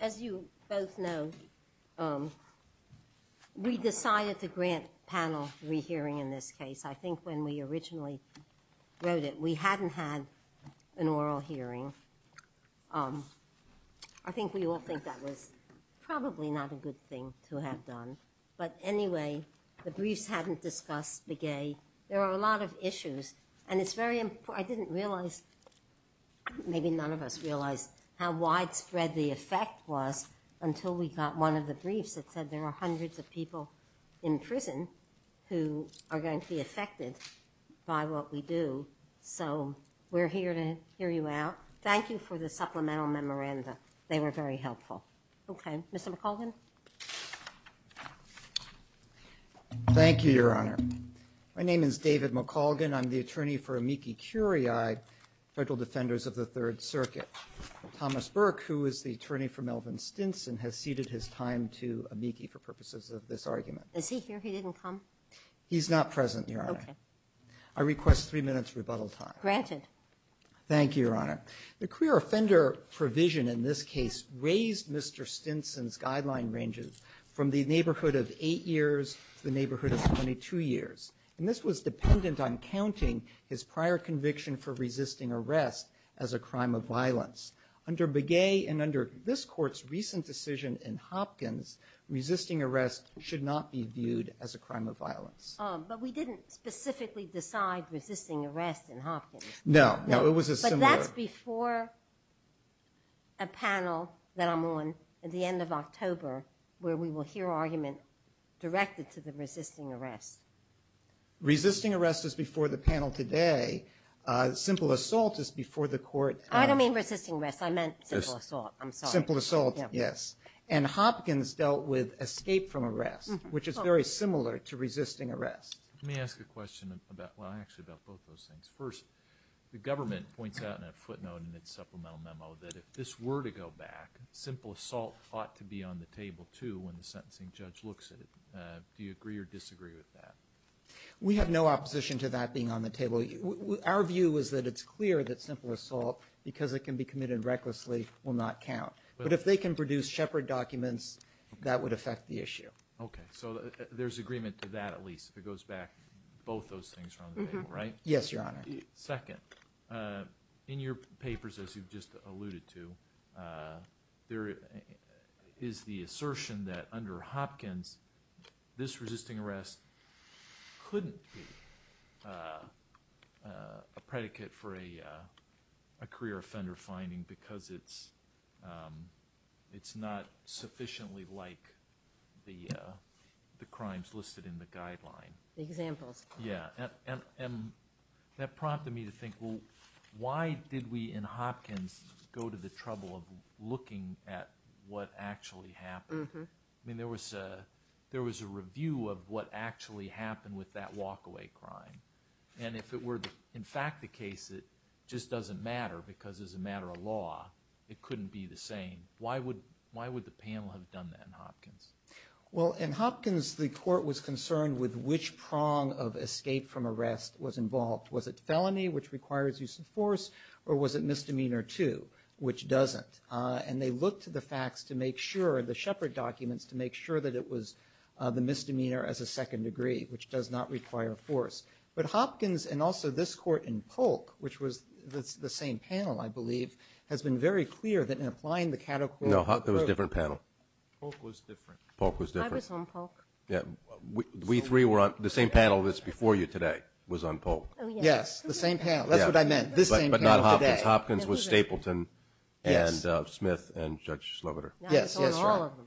As you both know, we decided to grant panel re-hearing in this case. I think when we originally wrote it, we hadn't had an oral hearing. I think we all think that was probably not a good thing to have done. But anyway, the briefs hadn't discussed the gay. There are a lot of issues and it's very important. I didn't realize, maybe none of us realized, how widespread the effect was until we got one of the briefs that said there are hundreds of people in prison who are going to be affected by what we do. So we're here to hear you out. Thank you for the supplemental memoranda. They were very helpful. Okay, Mr. McColgan. Thank you, Your Honor. My name is David McColgan. I'm the attorney for Amiki Curiae, Federal Defenders of the Third Circuit. Thomas Burke, who is the attorney for Melvin Stinson, has ceded his time to Amiki for purposes of this argument. Is he here? He didn't come? He's not present, Your Honor. Okay. I request three minutes rebuttal time. Granted. Thank you, Your Honor. The queer offender provision in this case raised Mr. Stinson's guideline ranges from the neighborhood of 8 years to the neighborhood of 22 years. And this was dependent on counting his prior conviction for resisting arrest as a crime of violence. Under Begay and under this Court's recent decision in Hopkins, resisting arrest should not be viewed as a crime of violence. But we didn't specifically decide resisting arrest in Hopkins. No. No, it was a similar... But that's before a panel that I'm on at the end of October where we will hear argument directed to the simple assault is before the court. I don't mean resisting arrest. I meant simple assault. I'm sorry. Simple assault, yes. And Hopkins dealt with escape from arrest, which is very similar to resisting arrest. Let me ask a question about, well, actually about both those things. First, the government points out in a footnote in its supplemental memo that if this were to go back, simple assault ought to be on the table, too, when the sentencing judge looks at it. Do you agree or disagree with that? We have no opposition to that being on the table. Our view is that it's clear that simple assault, because it can be committed recklessly, will not count. But if they can produce shepherd documents, that would affect the issue. Okay, so there's agreement to that, at least, if it goes back. Both those things are on the table, right? Yes, Your Honor. Second, in your papers, as you've just alluded to, there is the assertion that under Hopkins, this resisting arrest couldn't be a predicate for a career offender finding, because it's not sufficiently like the crimes listed in the guideline. Examples. Yeah. And that prompted me to think, well, why did we in Hopkins go to the trouble of looking at what actually happened? I mean, there was a review of what actually happened with that walkaway crime. And if it were, in fact, the case, it just doesn't matter, because as a matter of law, it couldn't be the same. Why would the panel have done that in Hopkins? Well, in Hopkins, the court was concerned with which prong of escape from arrest was involved. Was it felony, which requires use of force, or was it misdemeanor two, which doesn't? And they looked to the facts to make sure, the shepherd documents, to make sure that it was the misdemeanor as a second degree, which does not require force. But Hopkins, and also this court in Polk, which was the same panel, I believe, has been very clear that in applying the category of... No, it was a different panel. Polk was different. Polk was different. I was on Polk. Yeah. We three were on... The same panel that's before you today was on Polk. Yes, the same panel. That's what I meant. This same panel today. But not Hopkins. Hopkins was Stapleton and Smith and Judge Sloboda. Yes, that's right. I was on all of them.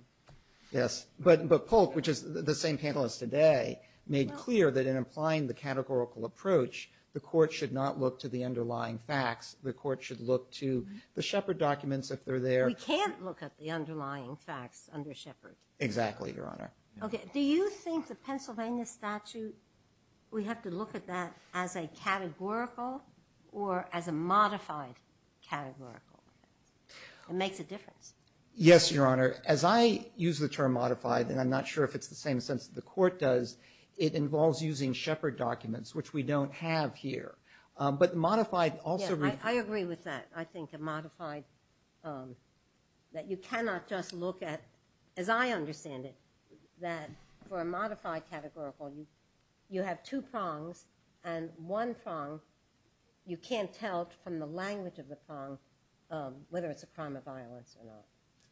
Yes. But Polk, which is the same panel as today, made clear that in applying the categorical approach, the court should not look to the underlying facts. The court should look to the shepherd documents if they're there. We can't look at the underlying facts under shepherd. Exactly, Your Honor. Okay. Do you think the Pennsylvania statute, we have to look at that as a categorical or as a modified categorical? It makes a difference. Yes, Your Honor. As I use the term modified, and I'm not sure if it's the same sense that the court does, it involves using shepherd documents, which we don't have here. But modified also... I agree with that. I think a modified, that you cannot just look at, as I understand it, that for a modified categorical, you have two prongs and one prong. You can't tell from the language of the prong whether it's a crime of violence or not.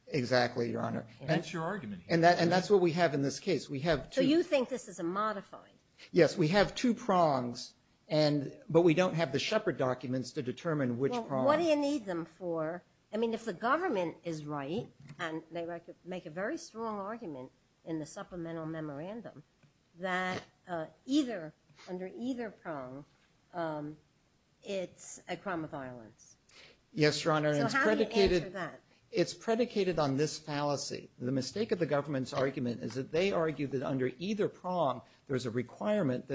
Exactly, Your Honor. That's your argument here. And that's what we have in this case. We have two... So you think this is a modified? Yes. We have two prongs, but we don't have the shepherd documents to determine which prong... What do you need them for? If the government is right, and they make a very strong argument in the supplemental memorandum, that under either prong, it's a crime of violence. Yes, Your Honor. So how do you answer that? It's predicated on this fallacy. The mistake of the government's argument is that they that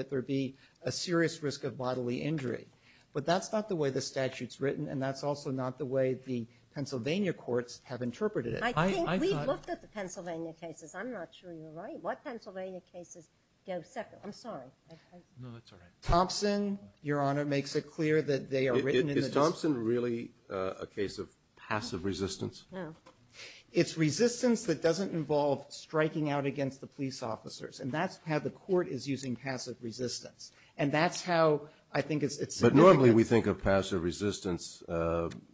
there be a serious risk of bodily injury. But that's not the way the statute's written, and that's also not the way the Pennsylvania courts have interpreted it. I think we've looked at the Pennsylvania cases. I'm not sure you're right. What Pennsylvania cases go separate? I'm sorry. No, that's all right. Thompson, Your Honor, makes it clear that they are written in the... Is Thompson really a case of passive resistance? No. It's resistance that doesn't involve striking out against the police officers. And that's how the court is using passive resistance. And that's how I think it's significant. But normally, we think of passive resistance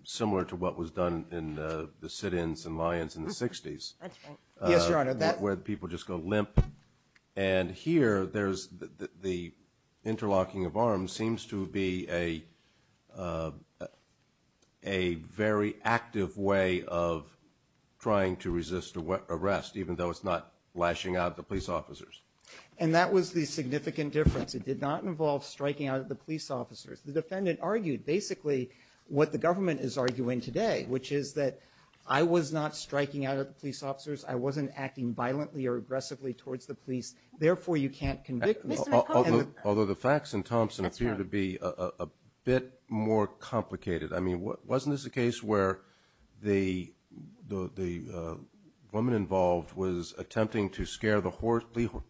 similar to what was done in the sit-ins and lions in the 60s. That's right. Yes, Your Honor, that... Where people just go limp. And here, there's the interlocking of arms seems to be a very active way of trying to resist arrest, even though it's not lashing out the police officers. And that was the significant difference. It did not involve striking out at the police officers. The defendant argued basically what the government is arguing today, which is that I was not striking out at the police officers. I wasn't acting violently or aggressively towards the police. Therefore, you can't convict... Although the facts in Thompson appear to be a bit more complicated. I mean, wasn't this a case where the woman involved was attempting to scare the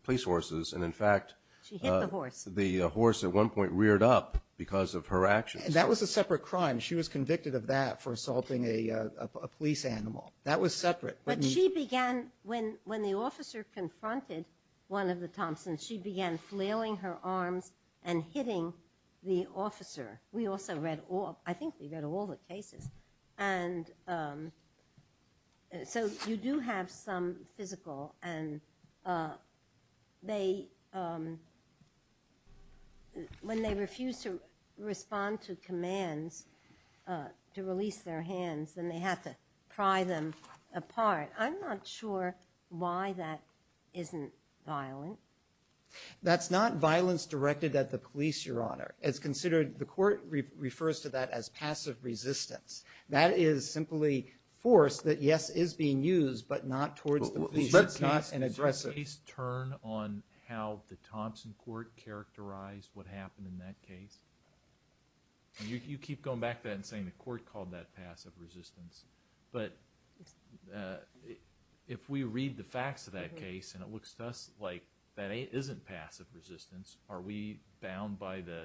police horses? And in fact... She hit the horse. The horse at one point reared up because of her actions. That was a separate crime. She was convicted of that for assaulting a police animal. That was separate. But she began... When the officer confronted one of the Thompsons, she began flailing her arms and hitting the officer. We also read all... I think we read all the cases. And so you do have some physical and they... When they refuse to respond to commands, to release their hands, then they have to pry them apart. I'm not sure why that isn't violent. That's not violence directed at the police, Your Honor. It's considered... The court refers to that as passive resistance. That is simply force that, yes, is being used, but not towards the police. It's not an aggressive... Does your case turn on how the Thompson court characterized what happened in that case? You keep going back to that and saying the court called that passive resistance. But if we read the facts of that case and it looks to us like that isn't passive resistance, are we bound by the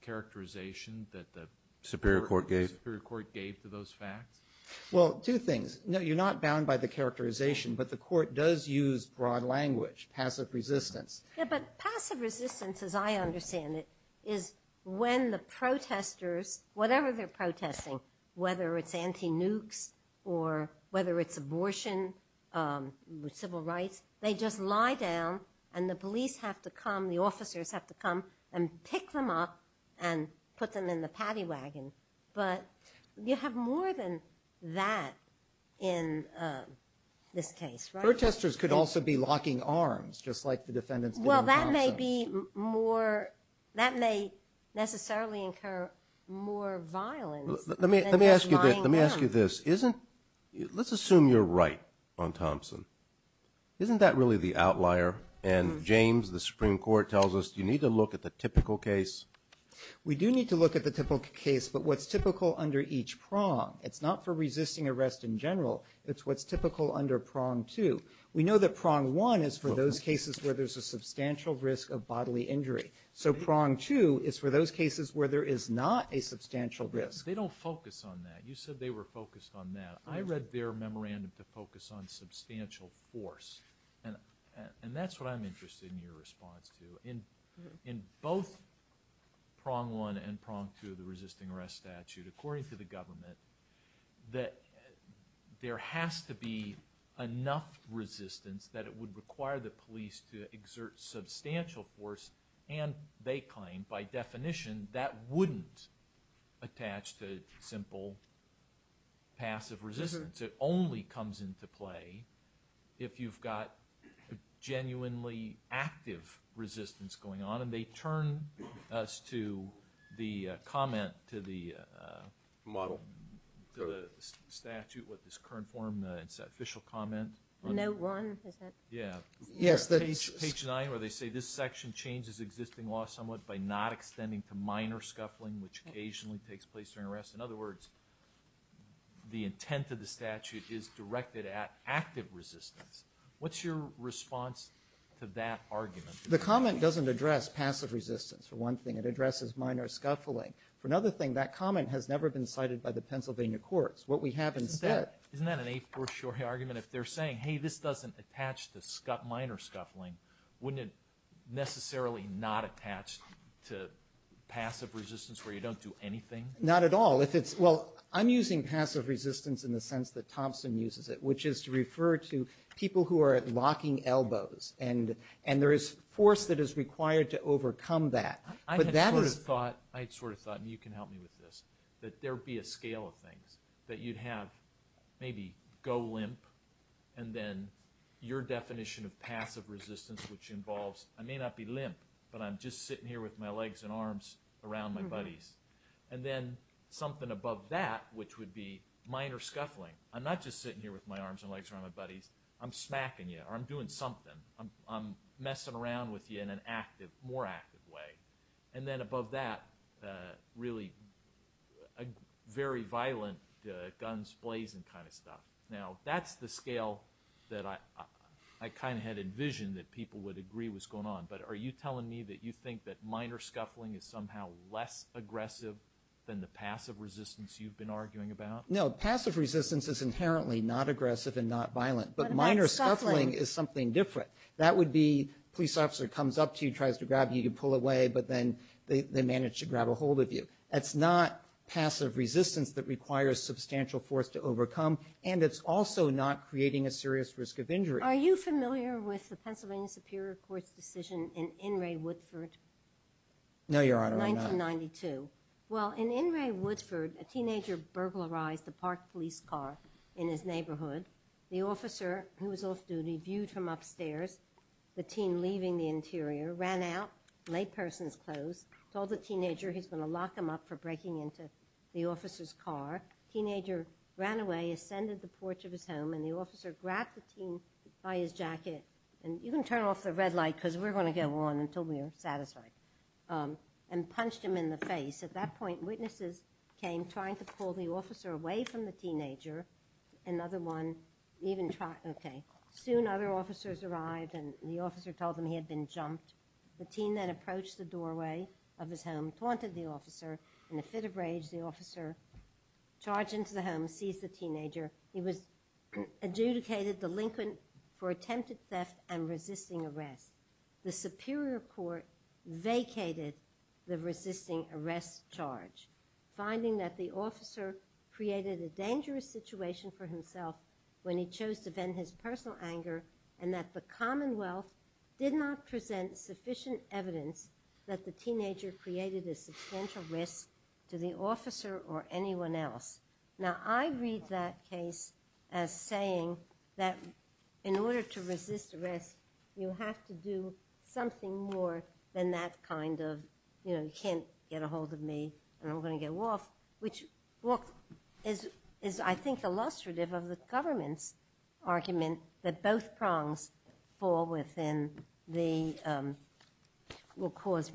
characterization that the superior court gave to those facts? Well, two things. No, you're not bound by the characterization, but the court does use broad language, passive resistance. Yeah, but passive resistance, as I understand it, is when the protesters, whatever they're or whether it's abortion, civil rights, they just lie down and the police have to come, the officers have to come and pick them up and put them in the paddy wagon. But you have more than that in this case, right? Protesters could also be locking arms, just like the defendants did in Thompson. Well, that may be more... That may necessarily incur more violence than just lying down. Let me ask you this. Let's assume you're right on Thompson. Isn't that really the outlier? And James, the Supreme Court tells us you need to look at the typical case. We do need to look at the typical case, but what's typical under each prong. It's not for resisting arrest in general. It's what's typical under prong two. We know that prong one is for those cases where there's a substantial risk of bodily injury. So prong two is for those cases where there is not a substantial risk. They don't focus on that. You said they were focused on that. I read their memorandum to focus on substantial force, and that's what I'm interested in your response to. In both prong one and prong two, the resisting arrest statute, according to the government, that there has to be enough resistance that it would require the police to exert substantial force and they claim by definition that wouldn't attach to simple passive resistance. It only comes into play if you've got genuinely active resistance going on, and they turn us to the comment to the model, the statute with this current form. It's an official comment. Note one, is it? Yes, page nine where they say this section changes existing law somewhat by not extending to minor scuffling, which occasionally takes place during arrest. In other words, the intent of the statute is directed at active resistance. What's your response to that argument? The comment doesn't address passive resistance, for one thing. It addresses minor scuffling. For another thing, that comment has never been cited by the Pennsylvania courts. What we have instead... Minor scuffling, wouldn't it necessarily not attach to passive resistance where you don't do anything? Not at all. I'm using passive resistance in the sense that Thompson uses it, which is to refer to people who are locking elbows, and there is force that is required to overcome that. I had sort of thought, and you can help me with this, that there'd be a scale of things that you'd have maybe go limp, and then your definition of passive resistance, which involves, I may not be limp, but I'm just sitting here with my legs and arms around my buddies. And then something above that, which would be minor scuffling. I'm not just sitting here with my arms and legs around my buddies. I'm smacking you, or I'm doing something. I'm messing around with you in an active, more active way. And then above that, really a very violent guns blazing kind of stuff. Now, that's the scale that I kind of had envisioned that people would agree was going on. But are you telling me that you think that minor scuffling is somehow less aggressive than the passive resistance you've been arguing about? No, passive resistance is inherently not aggressive and not violent. But minor scuffling is something different. That would be, police officer comes up to you, tries to grab you, you pull away, but then they manage to grab a hold of you. That's not passive resistance that requires substantial force to overcome, and it's also not creating a serious risk of injury. Are you familiar with the Pennsylvania Superior Court's decision in In re Woodford? No, Your Honor, I'm not. 1992. Well, in In re Woodford, a teenager burglarized a parked police car in his neighborhood. The officer, who was off duty, viewed him upstairs. The teen leaving the interior, ran out, laid person's clothes, told the teenager he's going to lock him up for breaking into the officer's car. Teenager ran away, ascended the porch of his home, and the officer grabbed the teen by his jacket, and you can turn off the red light because we're going to go on until we're satisfied, and punched him in the face. At that point, witnesses came trying to pull the officer away from the teenager. Another one even tried, okay. Soon other officers arrived, and the officer told them he had been jumped. The teen that approached the doorway of his home taunted the officer, in a fit of rage, the officer charged into the home, seized the teenager. He was adjudicated delinquent for attempted theft and resisting arrest. The Superior Court vacated the resisting arrest charge, finding that the officer created a dangerous situation for himself when he chose to vent his personal anger, and that the Commonwealth did not present sufficient evidence that the teenager created a substantial risk to the officer or anyone else. Now, I read that case as saying that in order to resist arrest, you have to do something more than that kind of, you know, you can't get a hold of me, and I'm going to get off, which is, I think, illustrative of the government's argument that both prongs fall within the, will cause,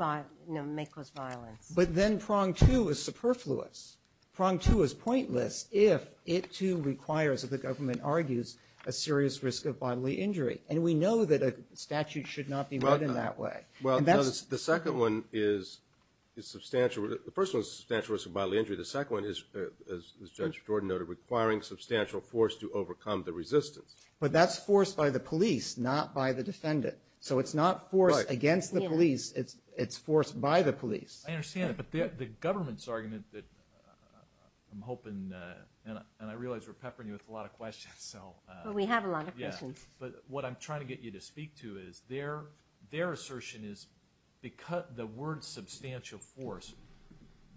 may cause violence. But then prong two is superfluous. Prong two is pointless if it too requires, if the government argues, a serious risk of bodily injury. And we know that a statute should not be run in that way. Well, the second one is substantial. The first one is substantial risk of bodily injury. The second one is, as Judge Jordan noted, requiring substantial force to overcome the resistance. But that's forced by the police, not by the defendant. So it's not forced against the police, it's forced by the police. I understand that, but the government's argument that, I'm hoping, and I realize we're peppering you with a lot of questions, so. We have a lot of questions. But what I'm trying to get you to speak to is, their assertion is the word substantial force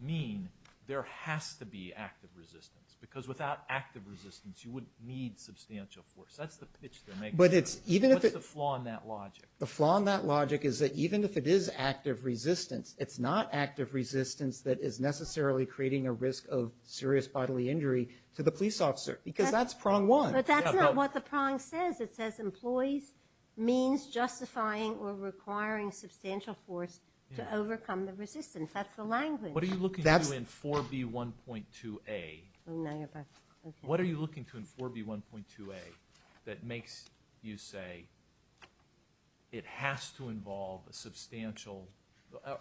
mean there has to be active resistance. Because without active resistance, you wouldn't need substantial force. That's the pitch they're making. But it's, even if it. What's the flaw in that logic? The flaw in that logic is that even if it is active resistance, it's not active resistance that is necessarily creating a risk of serious bodily injury to the police officer. Because that's prong one. But that's not what the prong says. It says employees means justifying or requiring substantial force to overcome the resistance. That's the language. What are you looking to in 4B1.2a? Now you're back. What are you looking to in 4B1.2a that makes you say, it has to involve a substantial,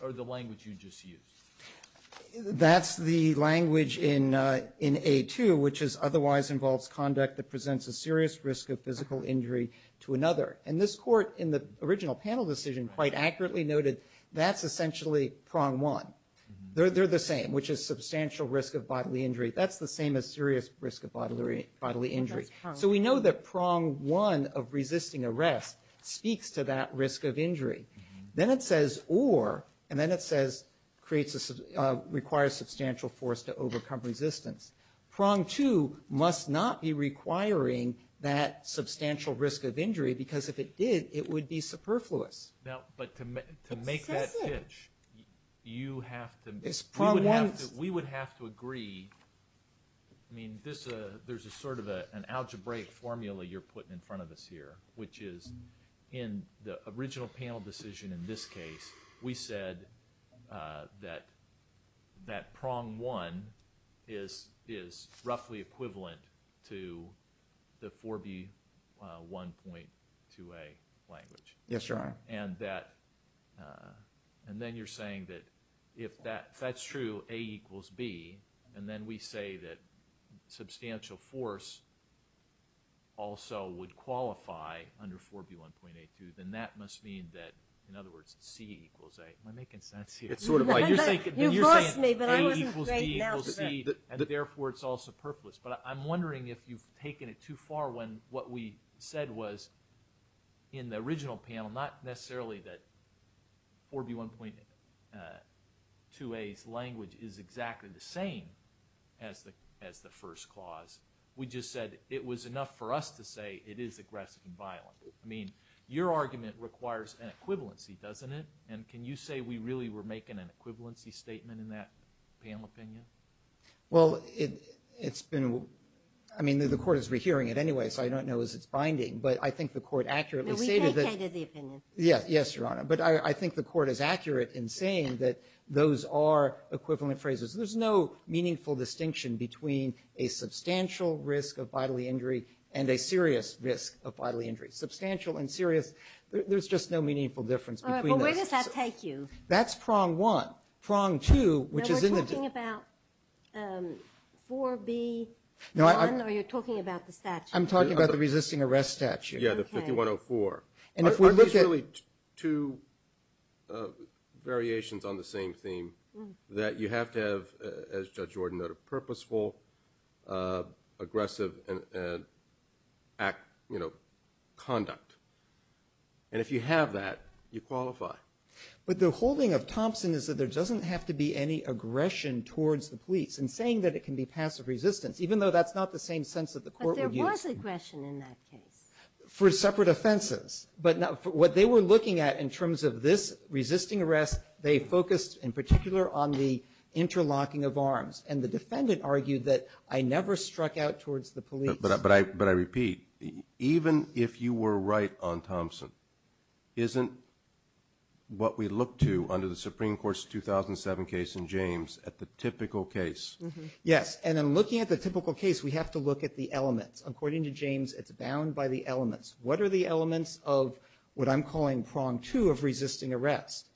or the language you just used? That's the language in A2, which is, otherwise involves conduct that presents a serious risk of physical injury to another. And this court, in the original panel decision, quite accurately noted, that's essentially prong one. They're the same, which is substantial risk of bodily injury. That's the same as serious risk of bodily injury. So we know that prong one of resisting arrest speaks to that risk of injury. Then it says or, and then it says requires substantial force to overcome resistance. Prong two must not be requiring that substantial risk of injury, because if it did, it would be superfluous. Now, but to make that pitch, you have to, we would have to agree I mean, there's a sort of an algebraic formula you're putting in front of us here, which is in the original panel decision in this case, we said that prong one is roughly equivalent to the 4B1.2a language. Yes, Your Honor. And that, and then you're saying that if that's true, A equals B, and then we say that substantial force also would qualify under 4B1.82, then that must mean that, in other words, C equals A. Am I making sense here? It's sort of like, you're saying A equals B equals C, and therefore it's all superfluous. But I'm wondering if you've taken it too far when what we said was in the original panel, not necessarily that 4B1.2a's language is exactly the same as the first clause, we just said it was enough for us to say it is aggressive and violent. I mean, your argument requires an equivalency, doesn't it? And can you say we really were making an equivalency statement in that panel opinion? Well, it's been, I mean, the Court is rehearing it anyway, so I don't know as it's binding, but I think the Court accurately stated that Yes, Your Honor. But I think the Court is accurate in saying that those are equivalent phrases. There's no meaningful distinction between a substantial risk of bodily injury and a serious risk of bodily injury. Substantial and serious, there's just no meaningful difference. All right, well, where does that take you? That's prong one. Prong two, which is in the We're talking about 4B1, or you're talking about the statute? I'm talking about the resisting arrest statute. Yeah, the 5104. Are these really two variations on the same theme that you have to have, as Judge Jordan noted, purposeful, aggressive, and act, you know, conduct? And if you have that, you qualify. But the holding of Thompson is that there doesn't have to be any aggression towards the police, and saying that it can be passive resistance, even though that's not the same sense that the Court would use. But there was aggression in that case. For separate offenses. But what they were looking at in terms of this resisting arrest, they focused in particular on the interlocking of arms. And the defendant argued that I never struck out towards the police. But I repeat, even if you were right on Thompson, isn't what we look to under the Supreme Court's 2007 case in James at the typical case? Yes, and in looking at the typical case, we have to look at the elements. According to James, it's bound by the elements. What are the elements of what I'm calling prong two of resisting arrest?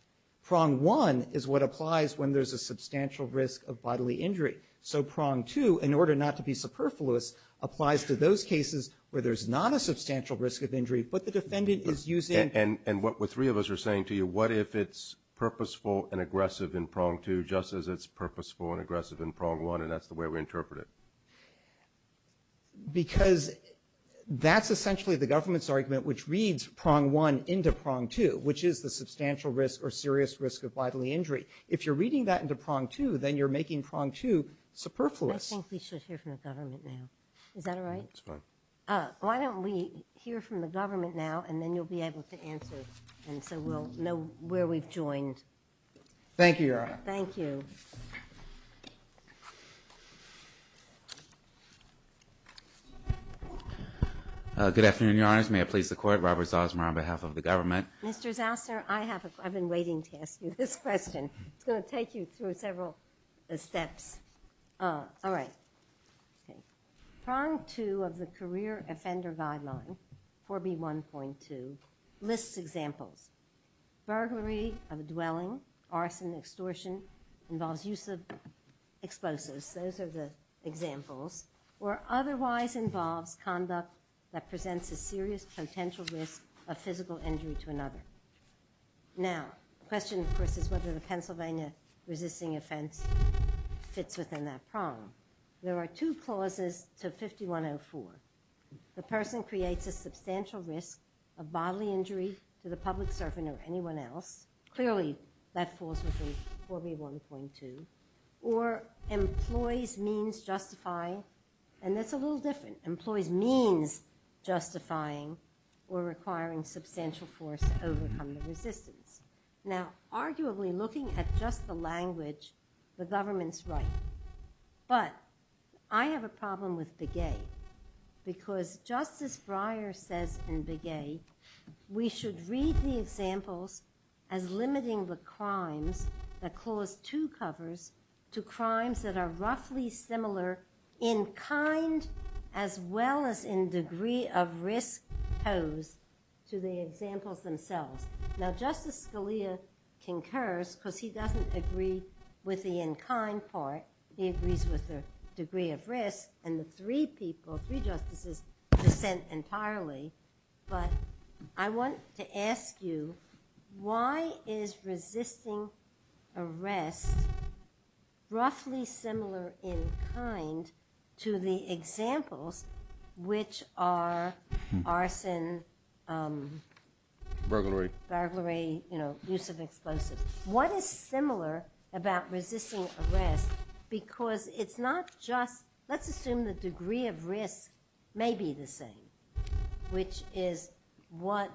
Prong one is what applies when there's a substantial risk of bodily injury. So prong two, in order not to be superfluous, applies to those cases where there's not a substantial risk of injury, but the defendant is using... And what the three of us are saying to you, what if it's purposeful and aggressive in prong two, just as it's purposeful and aggressive in prong one, and that's the way we interpret it? Because that's essentially the government's argument, which reads prong one into prong two, which is the substantial risk or serious risk of bodily injury. If you're reading that into prong two, then you're making prong two superfluous. I think we should hear from the government now. Is that all right? That's fine. Why don't we hear from the government now, and then you'll be able to answer. And so we'll know where we've joined. Thank you, Your Honor. Thank you. Good afternoon, Your Honors. May I please the court? Robert Zosmer on behalf of the government. Mr. Zosmer, I have... I've been waiting to ask you this question. It's going to take you through several steps. All right. Prong two of the Career Offender Guideline, 4B1.2, lists examples. Burglary of a dwelling, arson, extortion, involves use of explosives. Those are the examples. Or otherwise involves conduct that presents a serious potential risk of physical injury to another. Now, the question, of course, is whether the Pennsylvania resisting offense fits within that prong. There are two clauses to 5104. The person creates a substantial risk of bodily injury to the public servant or anyone else. Clearly, that falls within 4B1.2. Or employs means justifying. And that's a little different. Employees means justifying or requiring substantial force to overcome the resistance. Now, arguably, looking at just the language, the government's right. But I have a problem with Begay. Because Justice Breyer says in Begay, we should read the examples as limiting the crimes that Clause 2 covers to crimes that are roughly similar in kind as well as in degree of risk posed to the examples themselves. Now, Justice Scalia concurs because he doesn't agree with the in kind part. He agrees with the degree of risk. And the three people, three justices, dissent entirely. But I want to ask you, why is resisting arrest roughly similar in kind to the examples which are arson, burglary, use of explosives? What is similar about resisting arrest? Because it's not just, let's assume the degree of risk may be the same. Which is what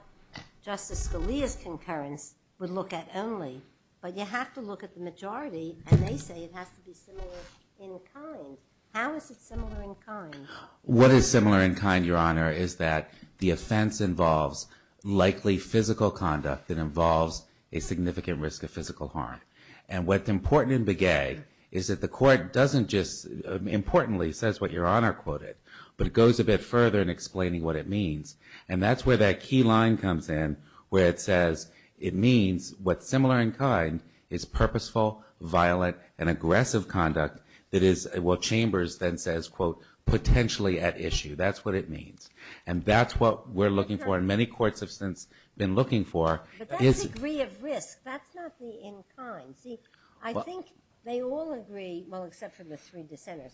Justice Scalia's concurrence would look at only. But you have to look at the majority. And they say it has to be similar in kind. How is it similar in kind? What is similar in kind, Your Honor, is that the offense involves likely physical conduct that involves a significant risk of physical harm. And what's important in Begay is that the court doesn't just, importantly, says what Your Honor quoted. But it goes a bit further in explaining what it means. And that's where that key line comes in, where it says it means what's similar in kind is purposeful, violent, and aggressive conduct that is what Chambers then says, quote, potentially at issue. That's what it means. And that's what we're looking for and many courts have since been looking for. But that's degree of risk. That's not the in kind. See, I think they all agree, well, except for the three dissenters.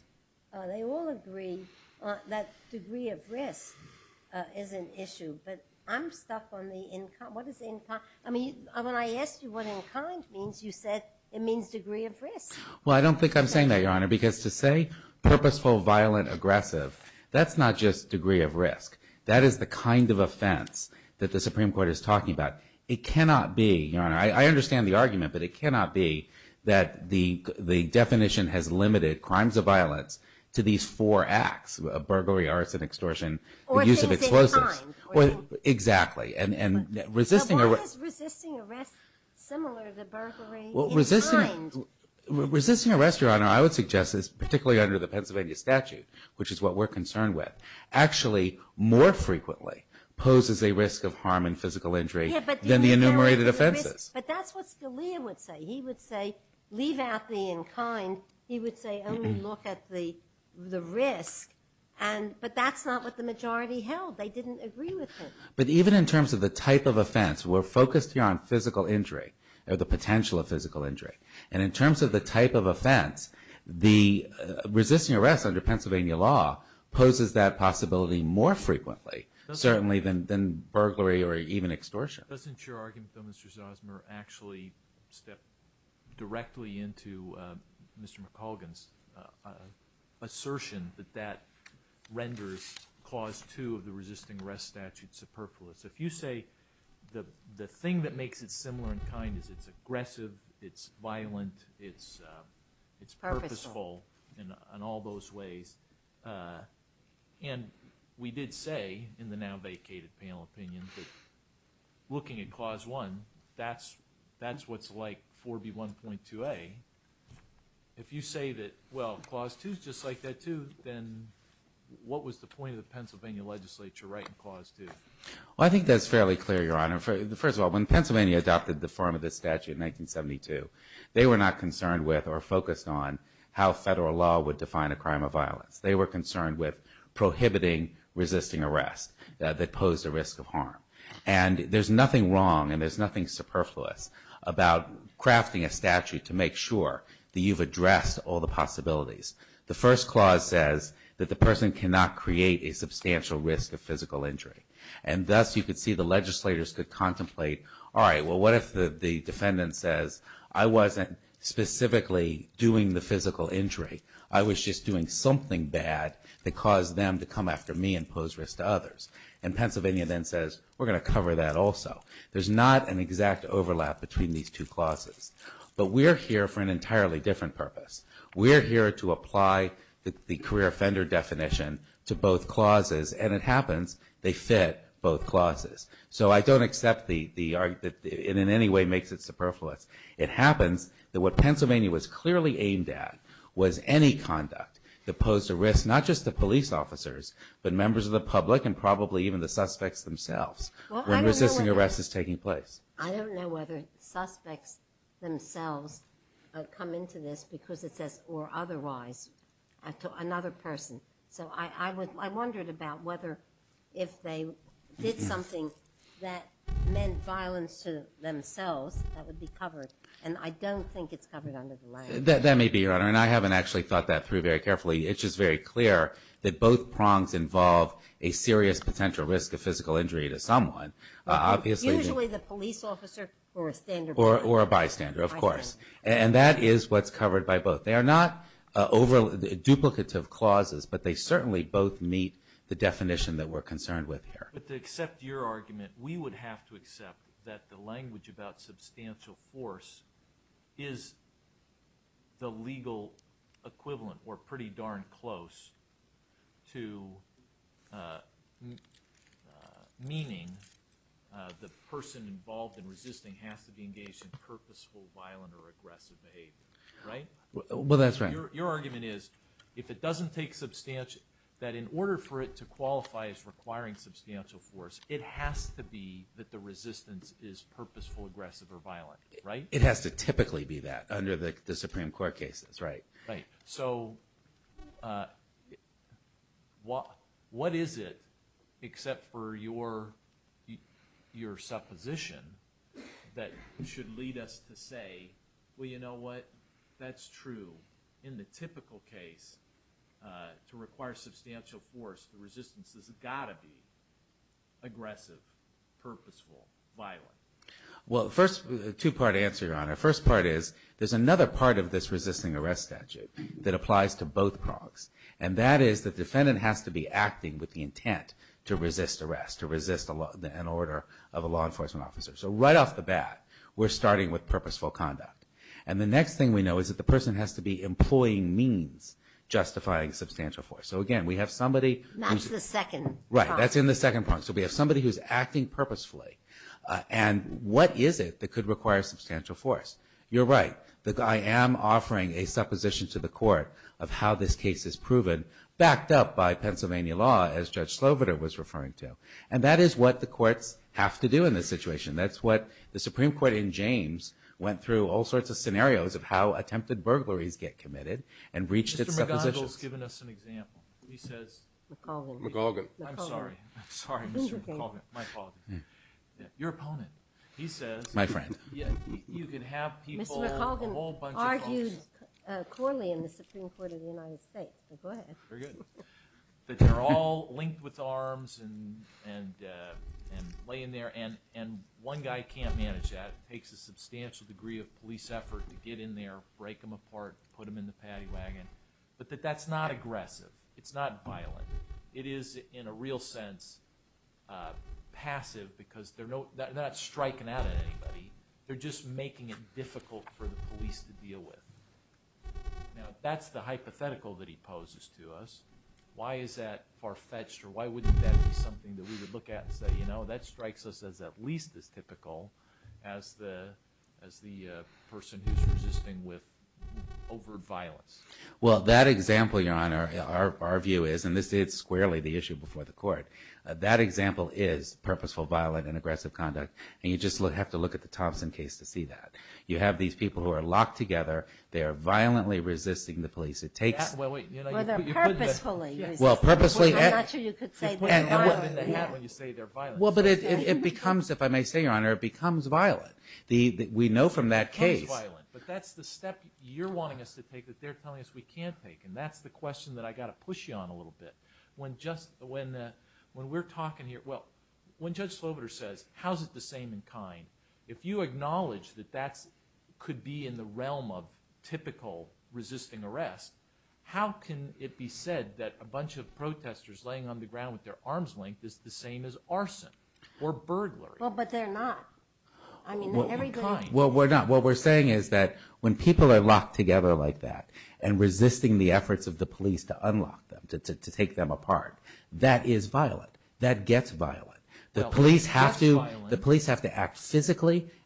They all agree that degree of risk is an issue. But I'm stuck on the in kind. What is in kind? I mean, when I asked you what in kind means, you said it means degree of risk. Well, I don't think I'm saying that, Your Honor. Because to say purposeful, violent, aggressive, that's not just degree of risk. That is the kind of offense that the Supreme Court is talking about. It cannot be, Your Honor, I understand the argument. But it cannot be that the definition has limited crimes of violence to these four acts, burglary, arson, extortion, and use of explosives. Or things in kind. Exactly. But what is resisting arrest similar to burglary in kind? Resisting arrest, Your Honor, I would suggest is particularly under the Pennsylvania statute, which is what we're concerned with, actually more frequently poses a risk of harm and physical injury than the enumerated offenses. But that's what Scalia would say. He would say, leave out the in kind. He would say, only look at the risk. But that's not what the majority held. They didn't agree with it. But even in terms of the type of offense, we're focused here on physical injury or the potential of physical injury. And in terms of the type of offense, resisting arrest under Pennsylvania law poses that possibility more frequently, certainly than burglary or even extortion. Doesn't your argument, though, Mr. Zosmer, actually step directly into Mr. McColgan's assertion that that renders Clause 2 of the resisting arrest statute superfluous? If you say the thing that makes it similar in kind is it's aggressive, it's violent, it's purposeful in all those ways. And we did say in the now vacated panel opinion that looking at Clause 1, that's what's like 4B1.2a. If you say that, well, Clause 2 is just like that, too, then what was the point of the Pennsylvania legislature writing Clause 2? Well, I think that's fairly clear, Your Honor. First of all, when Pennsylvania adopted the form of this statute in 1972, they were not They were concerned with prohibiting resisting arrest that posed a risk of harm. And there's nothing wrong and there's nothing superfluous about crafting a statute to make sure that you've addressed all the possibilities. The first clause says that the person cannot create a substantial risk of physical injury. And thus, you could see the legislators could contemplate, all right, well, what if the defendant says, I wasn't specifically doing the physical injury. I was just doing something bad that caused them to come after me and pose risk to others. And Pennsylvania then says, we're going to cover that also. There's not an exact overlap between these two clauses. But we're here for an entirely different purpose. We're here to apply the career offender definition to both clauses. And it happens they fit both clauses. So I don't accept the argument that in any way makes it superfluous. It happens that what Pennsylvania was clearly aimed at was any conduct that posed a risk, not just to police officers, but members of the public and probably even the suspects themselves when resisting arrest is taking place. I don't know whether suspects themselves come into this because it says, or otherwise, another person. So I wondered about whether if they did something that meant violence to themselves, that would be covered. And I don't think it's covered under the language. That may be, Your Honor. And I haven't actually thought that through very carefully. It's just very clear that both prongs involve a serious potential risk of physical injury to someone. Usually the police officer or a standerby. Or a bystander, of course. And that is what's covered by both. They are not duplicative clauses. But they certainly both meet the definition that we're concerned with here. To accept your argument, we would have to accept that the language about substantial force is the legal equivalent or pretty darn close to meaning the person involved in resisting has to be engaged in purposeful, violent, or aggressive behavior. Well, that's right. Your argument is if it doesn't take substantial, that in order for it to qualify as requiring substantial force, it has to be that the resistance is purposeful, aggressive, or violent. Right? It has to typically be that under the Supreme Court cases. Right. Right. So what is it, except for your supposition, that should lead us to say, well, you know what? That's true. In the typical case, to require substantial force, the resistance has got to be aggressive, purposeful, violent. Well, first two-part answer, Your Honor. First part is there's another part of this resisting arrest statute that applies to both progs. And that is the defendant has to be acting with the intent to resist arrest. To resist an order of a law enforcement officer. So right off the bat, we're starting with purposeful conduct. And the next thing we know is that the person has to be employing means justifying substantial force. So again, we have somebody who's- That's the second part. Right. That's in the second part. So we have somebody who's acting purposefully. And what is it that could require substantial force? You're right. I am offering a supposition to the court of how this case is proven, backed up by Pennsylvania law, as Judge Sloboda was referring to. And that is what the courts have to do in this situation. That's what the Supreme Court in James went through all sorts of scenarios of how attempted burglaries get committed and reached its suppositions. Mr. McGonigal's given us an example. He says- McColgan. McColgan. I'm sorry. I'm sorry, Mr. McColgan. My apologies. Your opponent. He says- My friend. You can have people- Mr. McColgan argued poorly in the Supreme Court of the United States. Go ahead. Very good. That they're all linked with arms and lay in there. And one guy can't manage that. It takes a substantial degree of police effort to get in there, break them apart, put them in the paddy wagon. But that that's not aggressive. It's not violent. It is, in a real sense, passive because they're not striking out at anybody. They're just making it difficult for the police to deal with. Now, that's the hypothetical that he poses to us. Why is that far-fetched? Or why wouldn't that be something that we would look at and say, you know, that strikes us as at least as typical as the person who's resisting with overt violence? Well, that example, Your Honor, our view is, and this is squarely the issue before the court, that example is purposeful, violent, and aggressive conduct. And you just have to look at the Thompson case to see that. You have these people who are locked together. They are violently resisting the police. It takes- Well, they're purposefully resisting the police. Well, purposefully- I'm not sure you could say they're violent. You can't when you say they're violent. Well, but it becomes, if I may say, Your Honor, it becomes violent. We know from that case- It becomes violent. But that's the step you're wanting us to take that they're telling us we can't take. And that's the question that I got to push you on a little bit. When we're talking here, well, when Judge Slobiter says, how's it the same in kind? If you acknowledge that that could be in the realm of typical resisting arrest, how can it be said that a bunch of protesters laying on the ground with their arms linked is the same as arson or burglary? Well, but they're not. I mean, everybody- Well, we're not. What we're saying is that when people are locked together like that and resisting the efforts of the police to unlock them, to take them apart, that is violent. That gets violent. The police have to-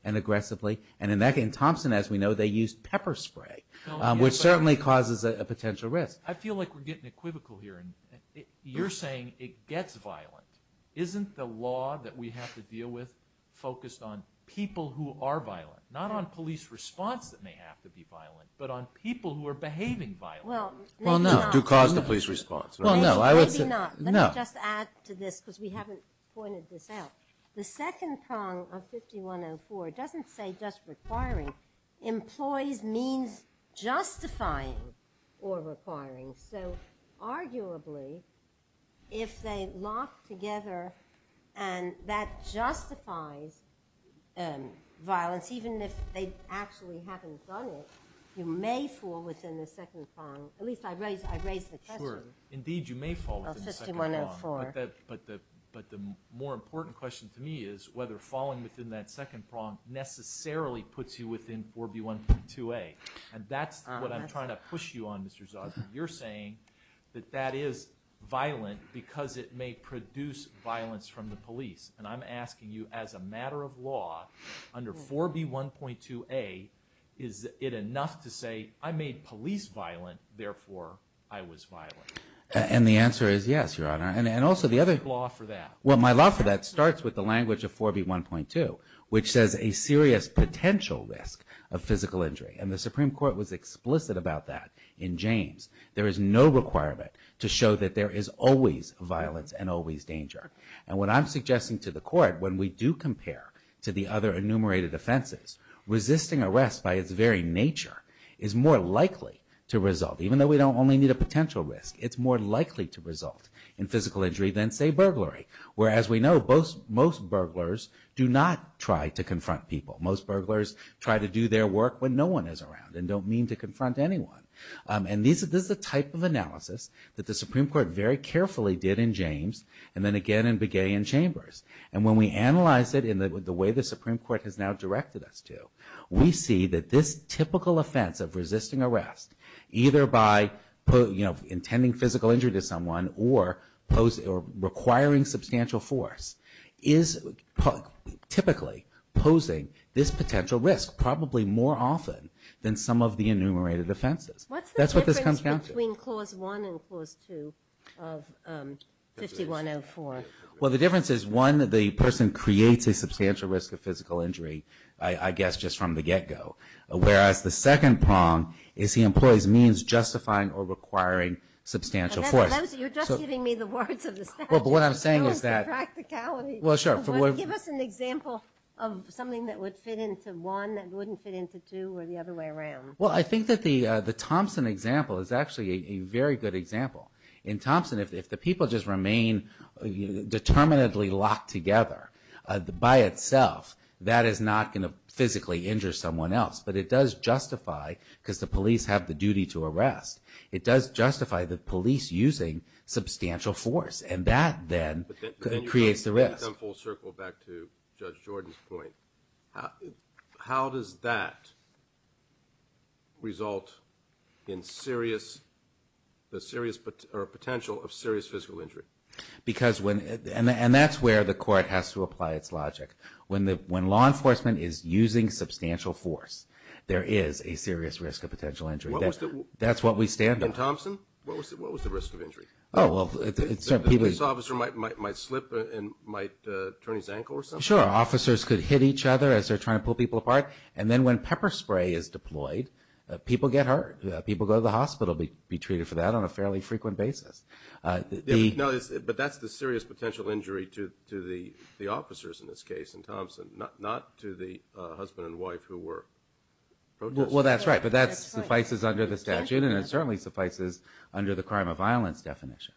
and aggressively. And in that case, Thompson, as we know, they used pepper spray, which certainly causes a potential risk. I feel like we're getting equivocal here. And you're saying it gets violent. Isn't the law that we have to deal with focused on people who are violent, not on police response that may have to be violent, but on people who are behaving violently? Well, maybe not. To cause the police response. Well, maybe not. Let me just add to this because we haven't pointed this out. The second prong of 5104 doesn't say just requiring. Employees means justifying or requiring. So arguably, if they lock together and that justifies violence, even if they actually haven't done it, you may fall within the second prong. At least I raised the question. Sure. Indeed, you may fall within the second prong. But the more important question to me is whether falling within that second prong necessarily puts you within 4B1.2a. And that's what I'm trying to push you on, Mr. Zaza. You're saying that that is violent because it may produce violence from the police. And I'm asking you, as a matter of law, under 4B1.2a, is it enough to say I made police violent, therefore I was violent? And the answer is yes, Your Honor. And also the other... What's your law for that? Well, my law for that starts with the language of 4B1.2, which says a serious potential risk of physical injury. And the Supreme Court was explicit about that in James. There is no requirement to show that there is always violence and always danger. And what I'm suggesting to the Court, when we do compare to the other enumerated offenses, resisting arrest by its very nature is more likely to result. Even though we don't only need a potential risk, it's more likely to result in physical injury than, say, burglary. Whereas we know most burglars do not try to confront people. Most burglars try to do their work when no one is around and don't mean to confront anyone. And this is the type of analysis that the Supreme Court very carefully did in James and then again in Begay and Chambers. And when we analyze it in the way the Supreme Court has now directed us to, we see that this typical offense of resisting arrest, either by intending physical injury to someone or requiring substantial force, is typically posing this potential risk, probably more often than some of the enumerated offenses. What's the difference between Clause 1 and Clause 2 of 5104? Well, the difference is, one, the person creates a substantial risk of physical injury, I guess, just from the get-go. Whereas the second prong is he employs means justifying or requiring substantial force. You're just giving me the words of the statute. Well, but what I'm saying is that... It ruins the practicality. Well, sure. Give us an example of something that would fit into one that wouldn't fit into two or the other way around. Well, I think that the Thompson example is actually a very good example. In Thompson, if the people just remain determinedly locked together by itself, that is not going to physically injure someone else. But it does justify, because the police have the duty to arrest, it does justify the police using substantial force. And that then creates the risk. But then you might come full circle back to Judge Jordan's point. How does that result in the potential of serious physical injury? And that's where the court has to apply its logic. When law enforcement is using substantial force, there is a serious risk of potential injury. That's what we stand on. In Thompson, what was the risk of injury? Oh, well, certain people... This officer might slip and might turn his ankle or something? Sure. Officers could hit each other as they're trying to pull people apart. And then when pepper spray is deployed, people get hurt. People go to the hospital, be treated for that on a fairly frequent basis. No, but that's the serious potential injury to the officers in this case in Thompson, not to the husband and wife who were protested. Well, that's right. But that suffices under the statute. And it certainly suffices under the crime of violence definition.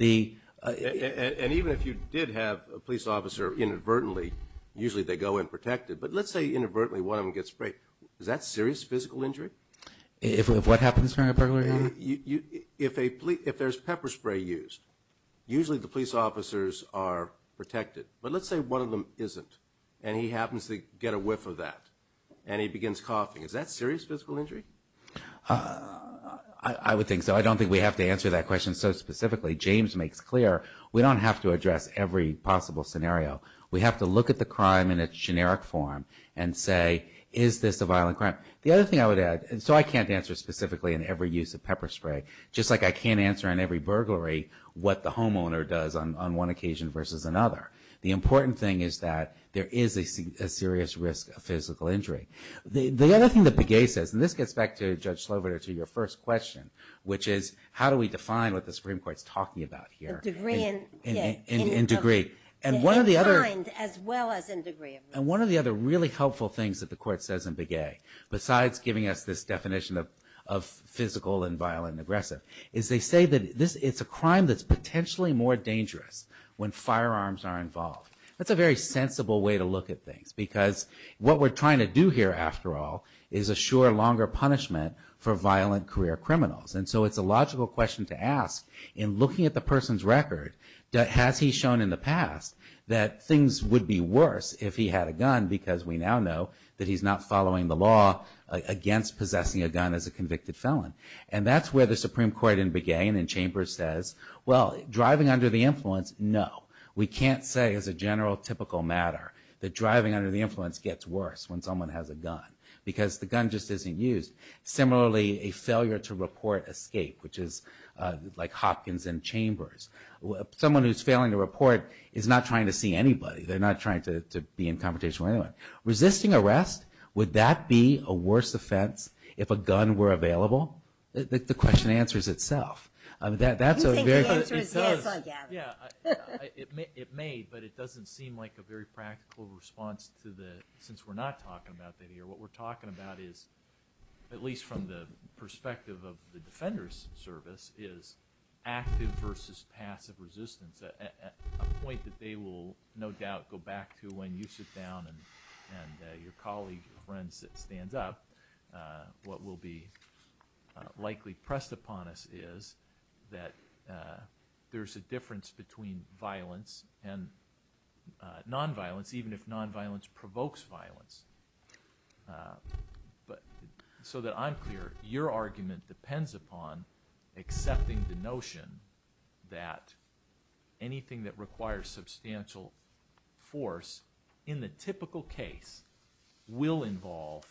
And even if you did have a police officer inadvertently, usually they go and protect it. But let's say inadvertently one of them gets sprayed. Is that serious physical injury? If what happens during a burglary? If there's pepper spray used, usually the police officers are protected. But let's say one of them isn't, and he happens to get a whiff of that, and he begins coughing. Is that serious physical injury? I would think so. I don't think we have to answer that question so specifically. James makes clear we don't have to address every possible scenario. We have to look at the crime in its generic form and say, is this a violent crime? The other thing I would add, and so I can't answer specifically in every use of pepper spray, just like I can't answer in every burglary what the homeowner does on one occasion versus another. The important thing is that there is a serious risk of physical injury. The other thing that Begay says, and this gets back to Judge Slover to your first question, which is, how do we define what the Supreme Court's talking about here? The degree in kind as well as in degree of risk. And one of the other really helpful things that the court says in Begay, besides giving us this definition of physical and violent and aggressive, is they say that it's a crime that's potentially more dangerous when firearms are involved. That's a very sensible way to look at things, because what we're trying to do here, after all, is assure longer punishment for violent career criminals. And so it's a logical question to ask, in looking at the person's record, has he shown in the past that things would be worse if he had a gun, because we now know that he's not following the law against possessing a gun as a convicted felon. And that's where the Supreme Court in Begay and in Chambers says, well, driving under the influence, no. We can't say, as a general typical matter, that driving under the influence gets worse when someone has a gun, because the gun just isn't used. Similarly, a failure to report escape, which is like Hopkins and Chambers. Someone who's failing to report is not trying to see anybody. They're not trying to be in confrontation with anyone. Resisting arrest, would that be a worse offense if a gun were available? The question answers itself. I mean, that's a very good question. You're saying the answer is yes again. Yeah, it may, but it doesn't seem like a very practical response to the, since we're not talking about that here. What we're talking about is, at least from the perspective of the Defender's Service, is active versus passive resistance, a point that they will, no doubt, go back to when you sit down and your colleagues and friends stand up. What will be likely pressed upon us is that there's a difference between violence and nonviolence, even if nonviolence provokes violence. So that I'm clear, your argument depends upon accepting the notion that anything that requires substantial force, in the typical case, will involve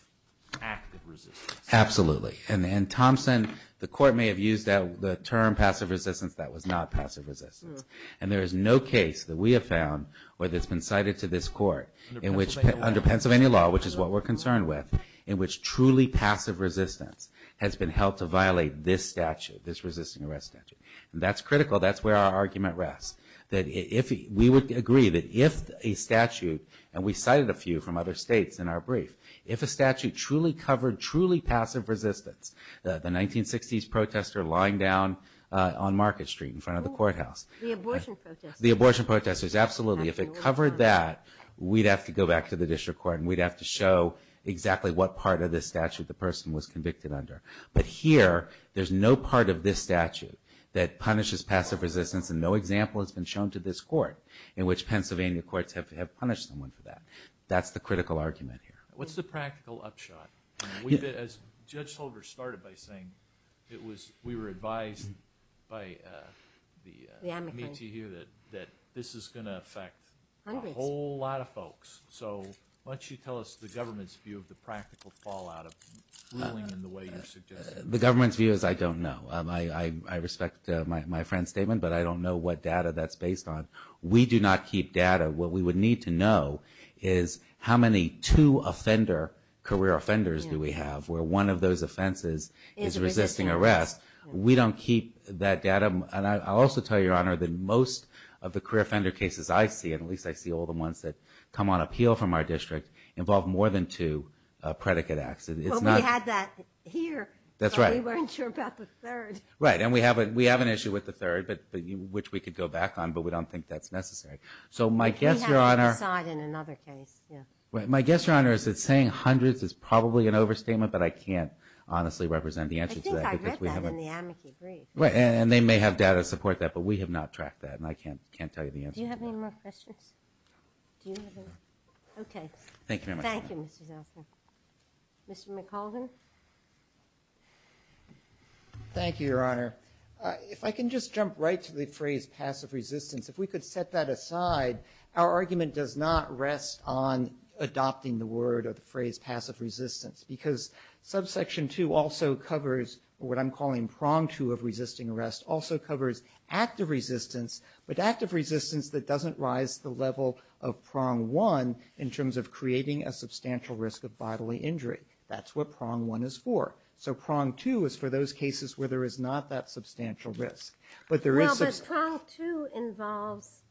active resistance. Absolutely. And, Thompson, the Court may have used the term passive resistance. That was not passive resistance. And there is no case that we have found, where it's been cited to this Court, in which, under Pennsylvania law, which is what we're concerned with, in which truly passive resistance has been held to violate this statute, this resisting arrest statute. That's critical. That's where our argument rests. We would agree that if a statute, and we cited a few from other states in our brief, if a statute truly covered truly passive resistance, the 1960s protester lying down on Market Street in front of the courthouse. The abortion protesters. The abortion protesters, absolutely. If it covered that, we'd have to go back to the District Court and we'd have to show exactly what part of this statute the person was convicted under. But here, there's no part of this statute that punishes passive resistance and no example has been shown to this Court in which Pennsylvania courts have punished someone for that. That's the critical argument here. What's the practical upshot? As Judge Holder started by saying, we were advised by the METU that this is going to affect a whole lot of folks. So why don't you tell us the government's view of the practical fallout of ruling in the way you're suggesting? The government's view is I don't know. I respect my friend's statement, but I don't know what data that's based on. We do not keep data. What we would need to know is how many two career offenders do we have where one of those offenses is resisting arrest. We don't keep that data. And I'll also tell you, Your Honor, that most of the career offender cases I see, and at least I see all the ones that come on appeal from our district, involve more than two predicate acts. Well, we had that here. That's right. But we weren't sure about the third. Right. And we have an issue with the third, which we could go back on, but we don't think that's necessary. So my guess, Your Honor... We have to decide in another case. My guess, Your Honor, is that saying hundreds is probably an overstatement, but I can't honestly represent the answer to that. I think I read that in the amici brief. And they may have data to support that, but we have not tracked that. And I can't tell you the answer. Do you have any more questions? Do you have any? Okay. Thank you very much. Thank you, Mr. Zelsner. Mr. McAldin. Thank you, Your Honor. If I can just jump right to the phrase passive resistance, if we could set that aside, our argument does not rest on adopting the word or the phrase passive resistance, because subsection two also covers what I'm calling prong two of resisting arrest, also covers active resistance, but active resistance that doesn't rise the level of prong one in terms of creating a substantial risk of bodily injury. That's what prong one is for. So prong two is for those cases where there is not that substantial risk, but there is... Well, but prong two involves...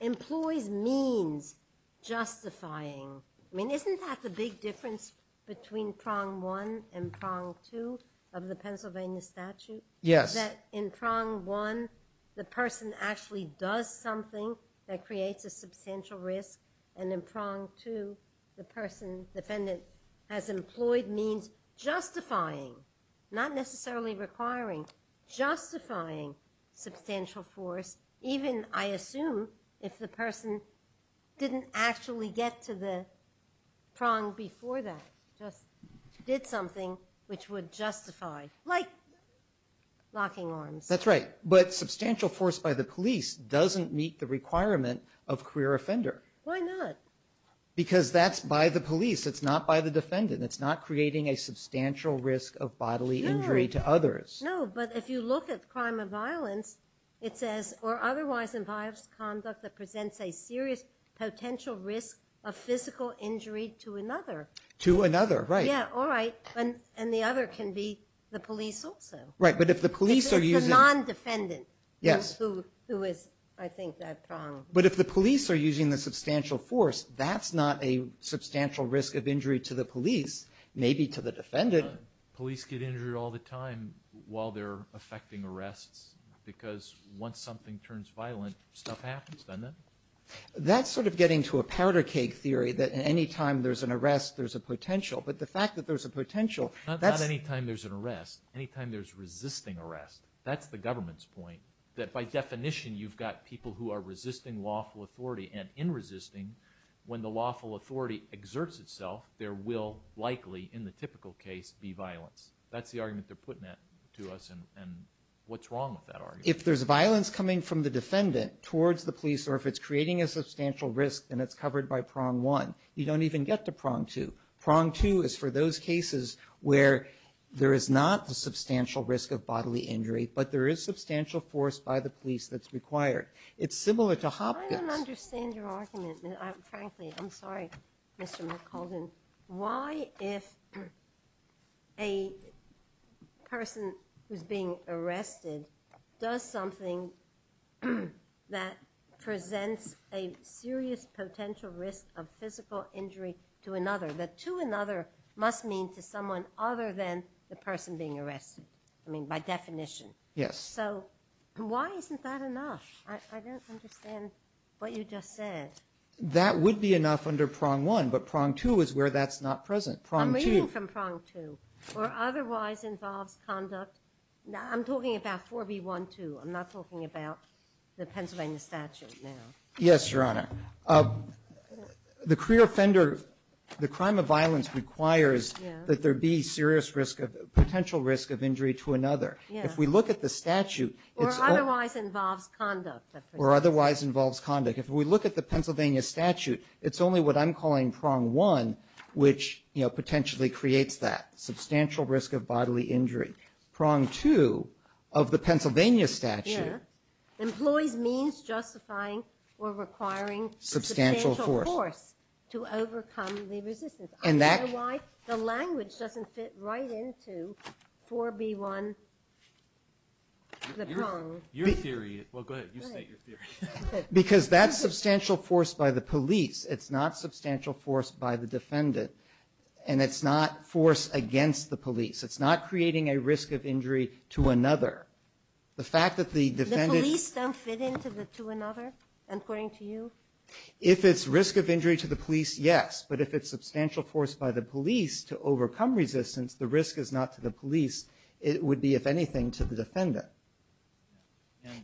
Employs means justifying. I mean, isn't that the big difference between prong one and prong two of the Pennsylvania statute? Yes. That in prong one, the person actually does something that creates a substantial risk, and in prong two, the person defendant has employed means justifying, not necessarily requiring, justifying substantial force, even, I assume, if the person didn't actually get to the prong before that, just did something which would justify, like locking arms. That's right. But substantial force by the police doesn't meet the requirement of queer offender. Why not? Because that's by the police. It's not by the defendant. It's not creating a substantial risk of bodily injury to others. No, but if you look at crime of violence, it says, or otherwise involves conduct that presents a serious potential risk of physical injury to another. To another, right. Yeah, all right. And the other can be the police also. Right, but if the police are using- The non-defendant. Yes. Who is, I think, that prong. But if the police are using the substantial force, that's not a substantial risk of injury to the police, maybe to the defendant. Police get injured all the time while they're affecting arrests because once something turns violent, stuff happens, doesn't it? That's sort of getting to a powder keg theory that anytime there's an arrest, there's a potential. But the fact that there's a potential, that's- Not anytime there's an arrest. Anytime there's resisting arrest. That's the government's point. That by definition, you've got people who are resisting lawful authority. And in resisting, when the lawful authority exerts itself, there will likely, in the typical case, be violence. That's the argument they're putting to us. And what's wrong with that argument? If there's violence coming from the defendant towards the police, or if it's creating a substantial risk, then it's covered by prong one. You don't even get to prong two. Prong two is for those cases where there is not the substantial risk of bodily injury, but there is substantial force by the police that's required. It's similar to Hopkins- I don't understand your argument. Frankly, I'm sorry, Mr. McAldin. Why, if a person who's being arrested does something that presents a serious potential risk of physical injury to another, that to another must mean to someone other than the person being arrested. I mean, by definition. Yes. So why isn't that enough? I don't understand what you just said. That would be enough under prong one, but prong two is where that's not present. I'm reading from prong two, or otherwise involves conduct. I'm talking about 4B12. I'm not talking about the Pennsylvania statute now. Yes, Your Honor. The career offender, the crime of violence requires that there be serious potential risk of injury to another. If we look at the statute- Or otherwise involves conduct. Or otherwise involves conduct. If we look at the Pennsylvania statute, it's only what I'm calling prong one, which potentially creates that substantial risk of bodily injury. Prong two of the Pennsylvania statute- Yes, employs means justifying or requiring substantial force to overcome the resistance. I don't know why the language doesn't fit right into 4B1, the prong. Your theory- Well, go ahead. You state your theory. Because that's substantial force by the police. It's not substantial force by the defendant. And it's not force against the police. It's not creating a risk of injury to another. The fact that the defendant- The police don't fit into the to another, according to you? If it's risk of injury to the police, yes. But if it's substantial force by the police to overcome resistance, the risk is not to the police. It would be, if anything, to the defendant.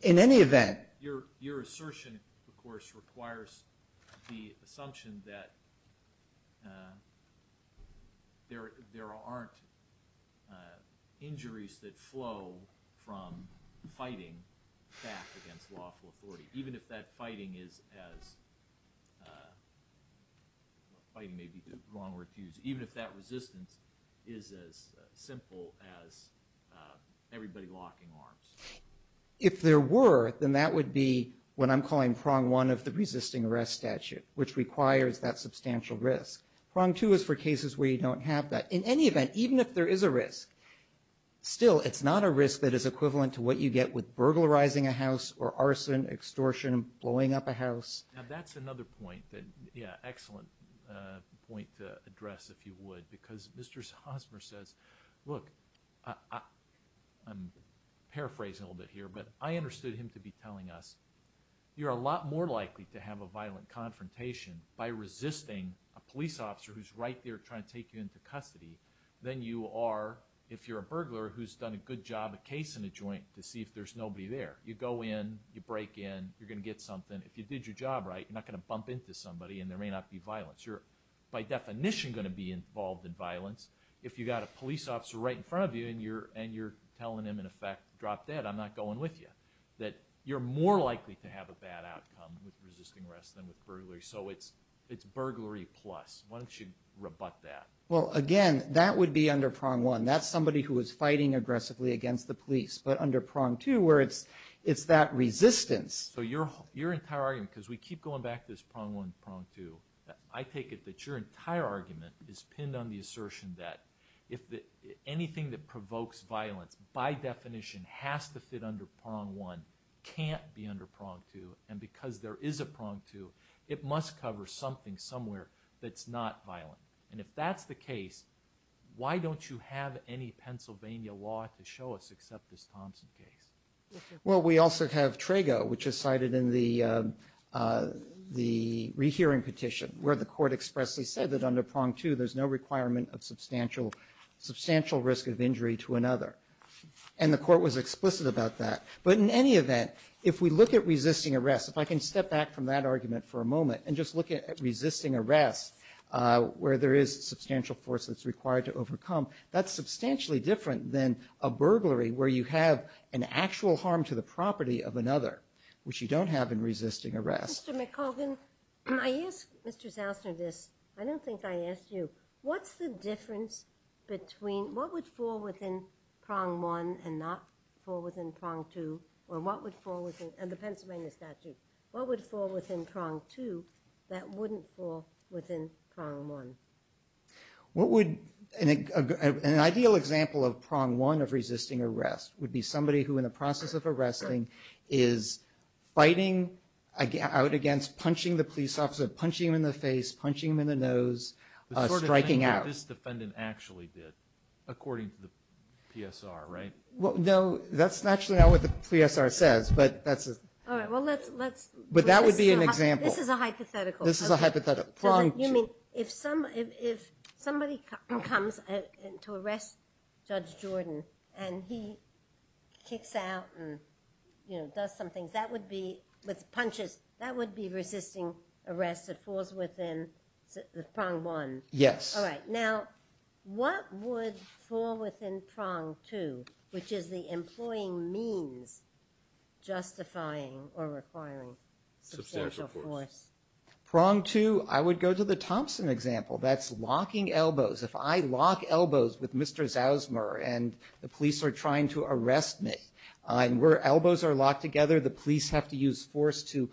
In any event- Your assertion, of course, requires the assumption that there aren't injuries that flow from fighting back against lawful authority, even if that fighting is as- fighting may be the wrong word to use- even if that resistance is as simple as everybody locking arms. If there were, then that would be what I'm calling prong one of the resisting arrest statute, which requires that substantial risk. Prong two is for cases where you don't have that. In any event, even if there is a risk, still, it's not a risk that is equivalent to what you get with burglarizing a house or arson, extortion, blowing up a house. Now, that's another point that- Yeah, excellent point to address, if you would. Because Mr. Hosmer says, look, I'm paraphrasing a little bit here, but I understood him to be telling us, you're a lot more likely to have a violent confrontation by resisting a police officer who's right there trying to take you into custody than you are if you're a burglar who's done a good job of casing a joint to see if there's nobody there. You go in, you break in, you're gonna get something. If you did your job right, you're not gonna bump into somebody and there may not be violence. You're, by definition, gonna be involved in violence if you got a police officer right in front of you and you're telling him, in effect, drop dead, I'm not going with you. That you're more likely to have a bad outcome with resisting arrest than with burglary. So it's burglary plus. Why don't you rebut that? Well, again, that would be under prong one. That's somebody who is fighting aggressively against the police. But under prong two, where it's that resistance- So your entire argument, because we keep going back to this prong one, prong two, I take it that your entire argument is pinned on the assertion that anything that provokes violence, by definition, has to fit under prong one, can't be under prong two, and because there is a prong two, it must cover something somewhere that's not violent. And if that's the case, why don't you have any Pennsylvania law to show us except this Thompson case? Well, we also have Trago, which is cited in the rehearing petition, where the court expressly said that under prong two, there's no requirement of substantial risk of injury to another. And the court was explicit about that. But in any event, if we look at resisting arrest, if I can step back from that argument for a moment and just look at resisting arrest, where there is substantial force that's required to overcome, that's substantially different than a burglary where you have an actual harm to the property of another, which you don't have in resisting arrest. Mr. McCaulgan, I ask Mr. Zausner this, I don't think I asked you, what's the difference between, what would fall within prong one and not fall within prong two, or what would fall within, and the Pennsylvania statute, what would fall within prong two that wouldn't fall within prong one? What would, an ideal example of prong one of resisting arrest would be somebody who in the process of arresting is fighting out against, punching the police officer, punching him in the face, punching him in the nose, striking out. What this defendant actually did, according to the PSR, right? Well, no, that's actually not what the PSR says, but that's a, but that would be an example. This is a hypothetical. This is a hypothetical, prong two. You mean, if somebody comes to arrest Judge Jordan, and he kicks out and does some things, that would be, with punches, that would be resisting arrest that falls within prong one. Now, what would fall within prong two, which is the employing means justifying or requiring substantial force? Prong two, I would go to the Thompson example. That's locking elbows. If I lock elbows with Mr. Zausmer, and the police are trying to arrest me, and where elbows are locked together, the police have to use force to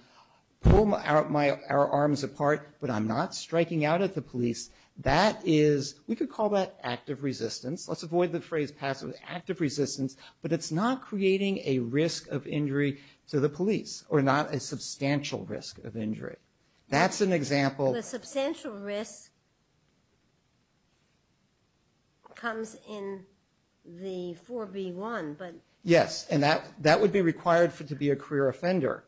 pull our arms apart, but I'm not striking out at the police, that is, we could call that active resistance. Let's avoid the phrase passive. Active resistance, but it's not creating a risk of injury to the police, or not a substantial risk of injury. That's an example. The substantial risk comes in the 4B1, but. Yes, and that would be required to be a career offender,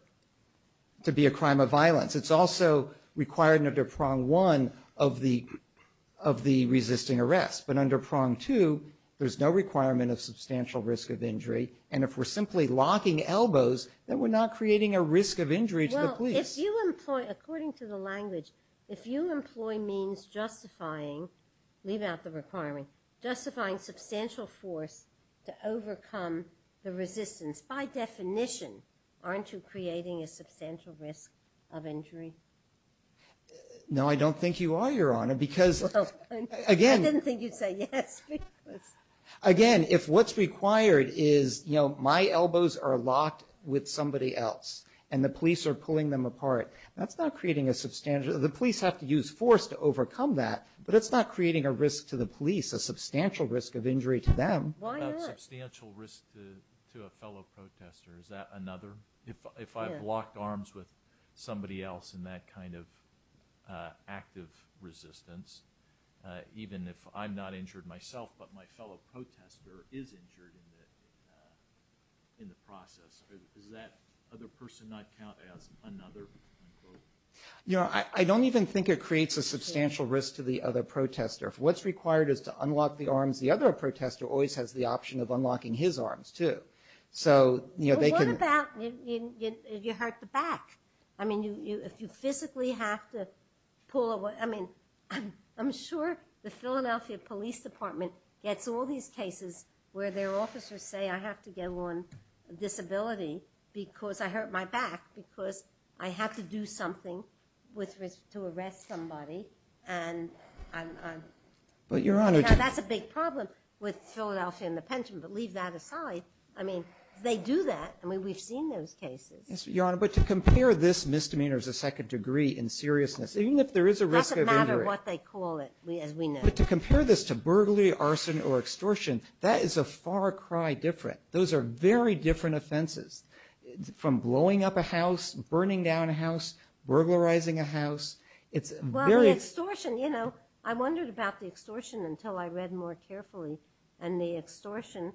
to be a crime of violence. It's also required under prong one of the resisting arrest, but under prong two, there's no requirement of substantial risk of injury, and if we're simply locking elbows, then we're not creating a risk of injury to the police. If you employ, according to the language, if you employ means justifying, leave out the requirement, justifying substantial force to overcome the resistance, by definition, aren't you creating a substantial risk of injury? No, I don't think you are, Your Honor, because again. I didn't think you'd say yes. Again, if what's required is, you know, my elbows are locked with somebody else, and the police are pulling them apart, that's not creating a substantial, the police have to use force to overcome that, but it's not creating a risk to the police, a substantial risk of injury to them. Why not? A substantial risk to a fellow protester, is that another? If I've locked arms with somebody else, and that kind of active resistance, even if I'm not injured myself, but my fellow protester is injured in the process, does that other person not count as another? Your Honor, I don't even think it creates a substantial risk to the other protester. If what's required is to unlock the arms, the other protester always has the option of unlocking his arms, too. So, you know, they can. But what about if you hurt the back? I mean, if you physically have to pull away, I mean, I'm sure the Philadelphia Police Department gets all these cases where their officers say, I have to go on disability because I hurt my back, because I have to do something to arrest somebody, and I'm, that's a big problem with Philadelphia and the pension, but leave that aside. I mean, they do that. I mean, we've seen those cases. Yes, Your Honor, but to compare this misdemeanor as a second degree in seriousness, even if there is a risk of injury. Doesn't matter what they call it, as we know. But to compare this to burglary, arson, or extortion, that is a far cry different. Those are very different offenses, from blowing up a house, burning down a house, burglarizing a house, it's very- Well, the extortion, you know, I wondered about the extortion until I read more carefully, and the extortion,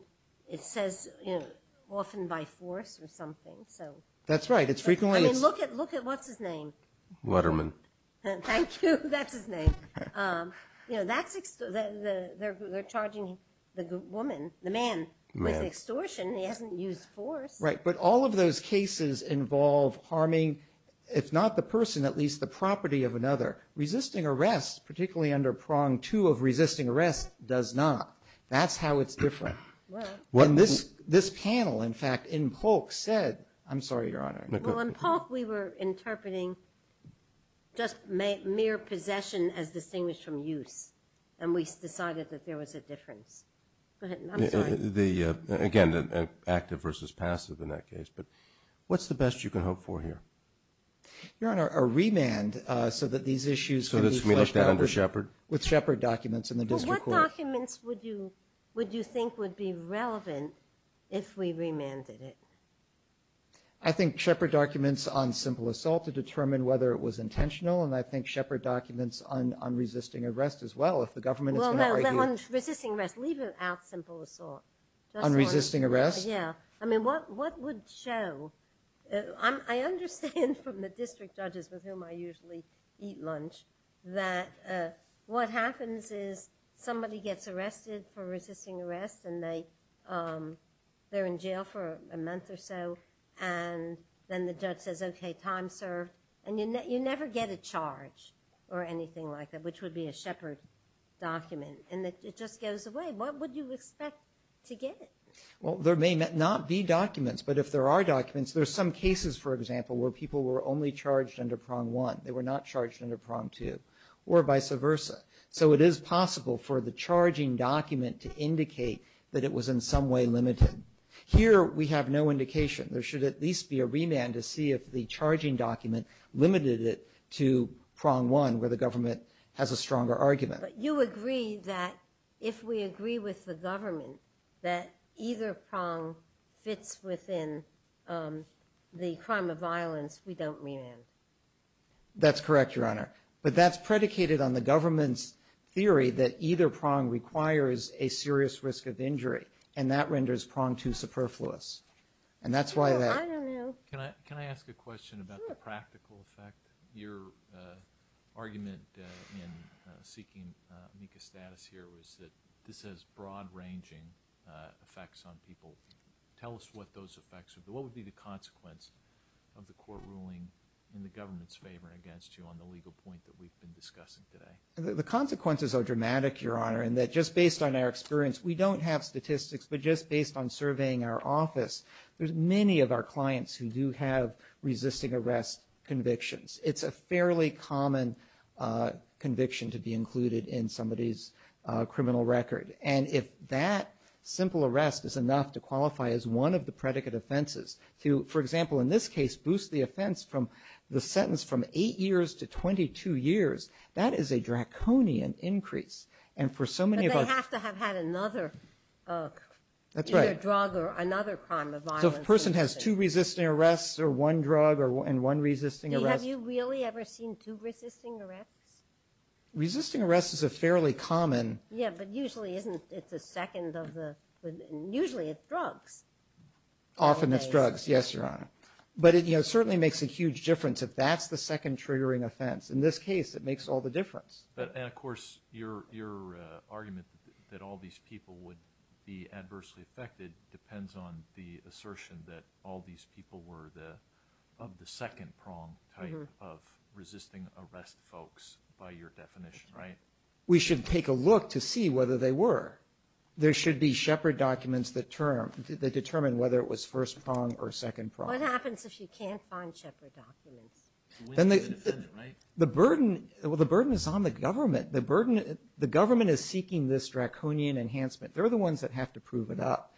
it says, you know, often by force or something. That's right, it's frequently- I mean, look at, what's his name? Letterman. Thank you, that's his name. You know, that's, they're charging the woman, the man, with extortion. He hasn't used force. Right, but all of those cases involve harming, if not the person, at least the property of another. Resisting arrest, particularly under prong two of resisting arrest, does not. That's how it's different. Well, this panel, in fact, in Polk said, I'm sorry, Your Honor. Well, in Polk, we were interpreting just mere possession as distinguished from use, and we decided that there was a difference. Go ahead, I'm sorry. The, again, active versus passive in that case, but what's the best you can hope for here? Your Honor, a remand so that these issues- So this would be flushed out under Shepard? With Shepard documents in the district court. What documents would you think would be relevant if we remanded it? I think Shepard documents on simple assault to determine whether it was intentional, and I think Shepard documents on resisting arrest as well, if the government is going to argue- Well, no, on resisting arrest, leave out simple assault. On resisting arrest? Yeah, I mean, what would show? I understand from the district judges with whom I usually eat lunch, that what happens is somebody gets arrested for resisting arrest, and they're in jail for a month or so, and then the judge says, okay, time served, and you never get a charge or anything like that, which would be a Shepard document, and it just goes away. What would you expect to get? Well, there may not be documents, but if there are documents, there's some cases, for example, where people were only charged under prong one. They were not charged under prong two, or vice versa. So it is possible for the charging document to indicate that it was in some way limited. Here, we have no indication. There should at least be a remand to see if the charging document limited it to prong one, where the government has a stronger argument. But you agree that if we agree with the government that either prong fits within the crime of violence, we don't remand? That's correct, Your Honor. But that's predicated on the government's theory that either prong requires a serious risk of injury, and that renders prong two superfluous. And that's why that- I don't know. Can I ask a question about the practical effect? Your argument in seeking MECA status here was that this has broad-ranging effects on people. Tell us what those effects would be. What would be the consequence of the court ruling in the government's favor against you on the legal point that we've been discussing today? The consequences are dramatic, Your Honor, in that just based on our experience, we don't have statistics. But just based on surveying our office, there's many of our clients who do have resisting arrest convictions. It's a fairly common conviction to be included in somebody's criminal record. And if that simple arrest is enough to qualify as one of the predicate offenses, to, for example, in this case, boost the offense from the sentence from eight years to 22 years, that is a draconian increase. And for so many of our- But they have to have had another drug or another crime of violence. So if a person has two resisting arrests or one drug and one resisting arrest- Have you really ever seen two resisting arrests? Resisting arrests is a fairly common- Yeah, but usually it's a second of the- Usually it's drugs. Often it's drugs, yes, Your Honor. But it certainly makes a huge difference if that's the second triggering offense. In this case, it makes all the difference. But, of course, your argument that all these people would be adversely affected depends on the assertion that all these people were of the second prong type of resisting arrest folks by your definition, right? We should take a look to see whether they were. There should be Shepard documents that determine whether it was first prong or second prong. What happens if you can't find Shepard documents? When do you defend it, right? The burden is on the government. The government is seeking this draconian enhancement. They're the ones that have to prove it up.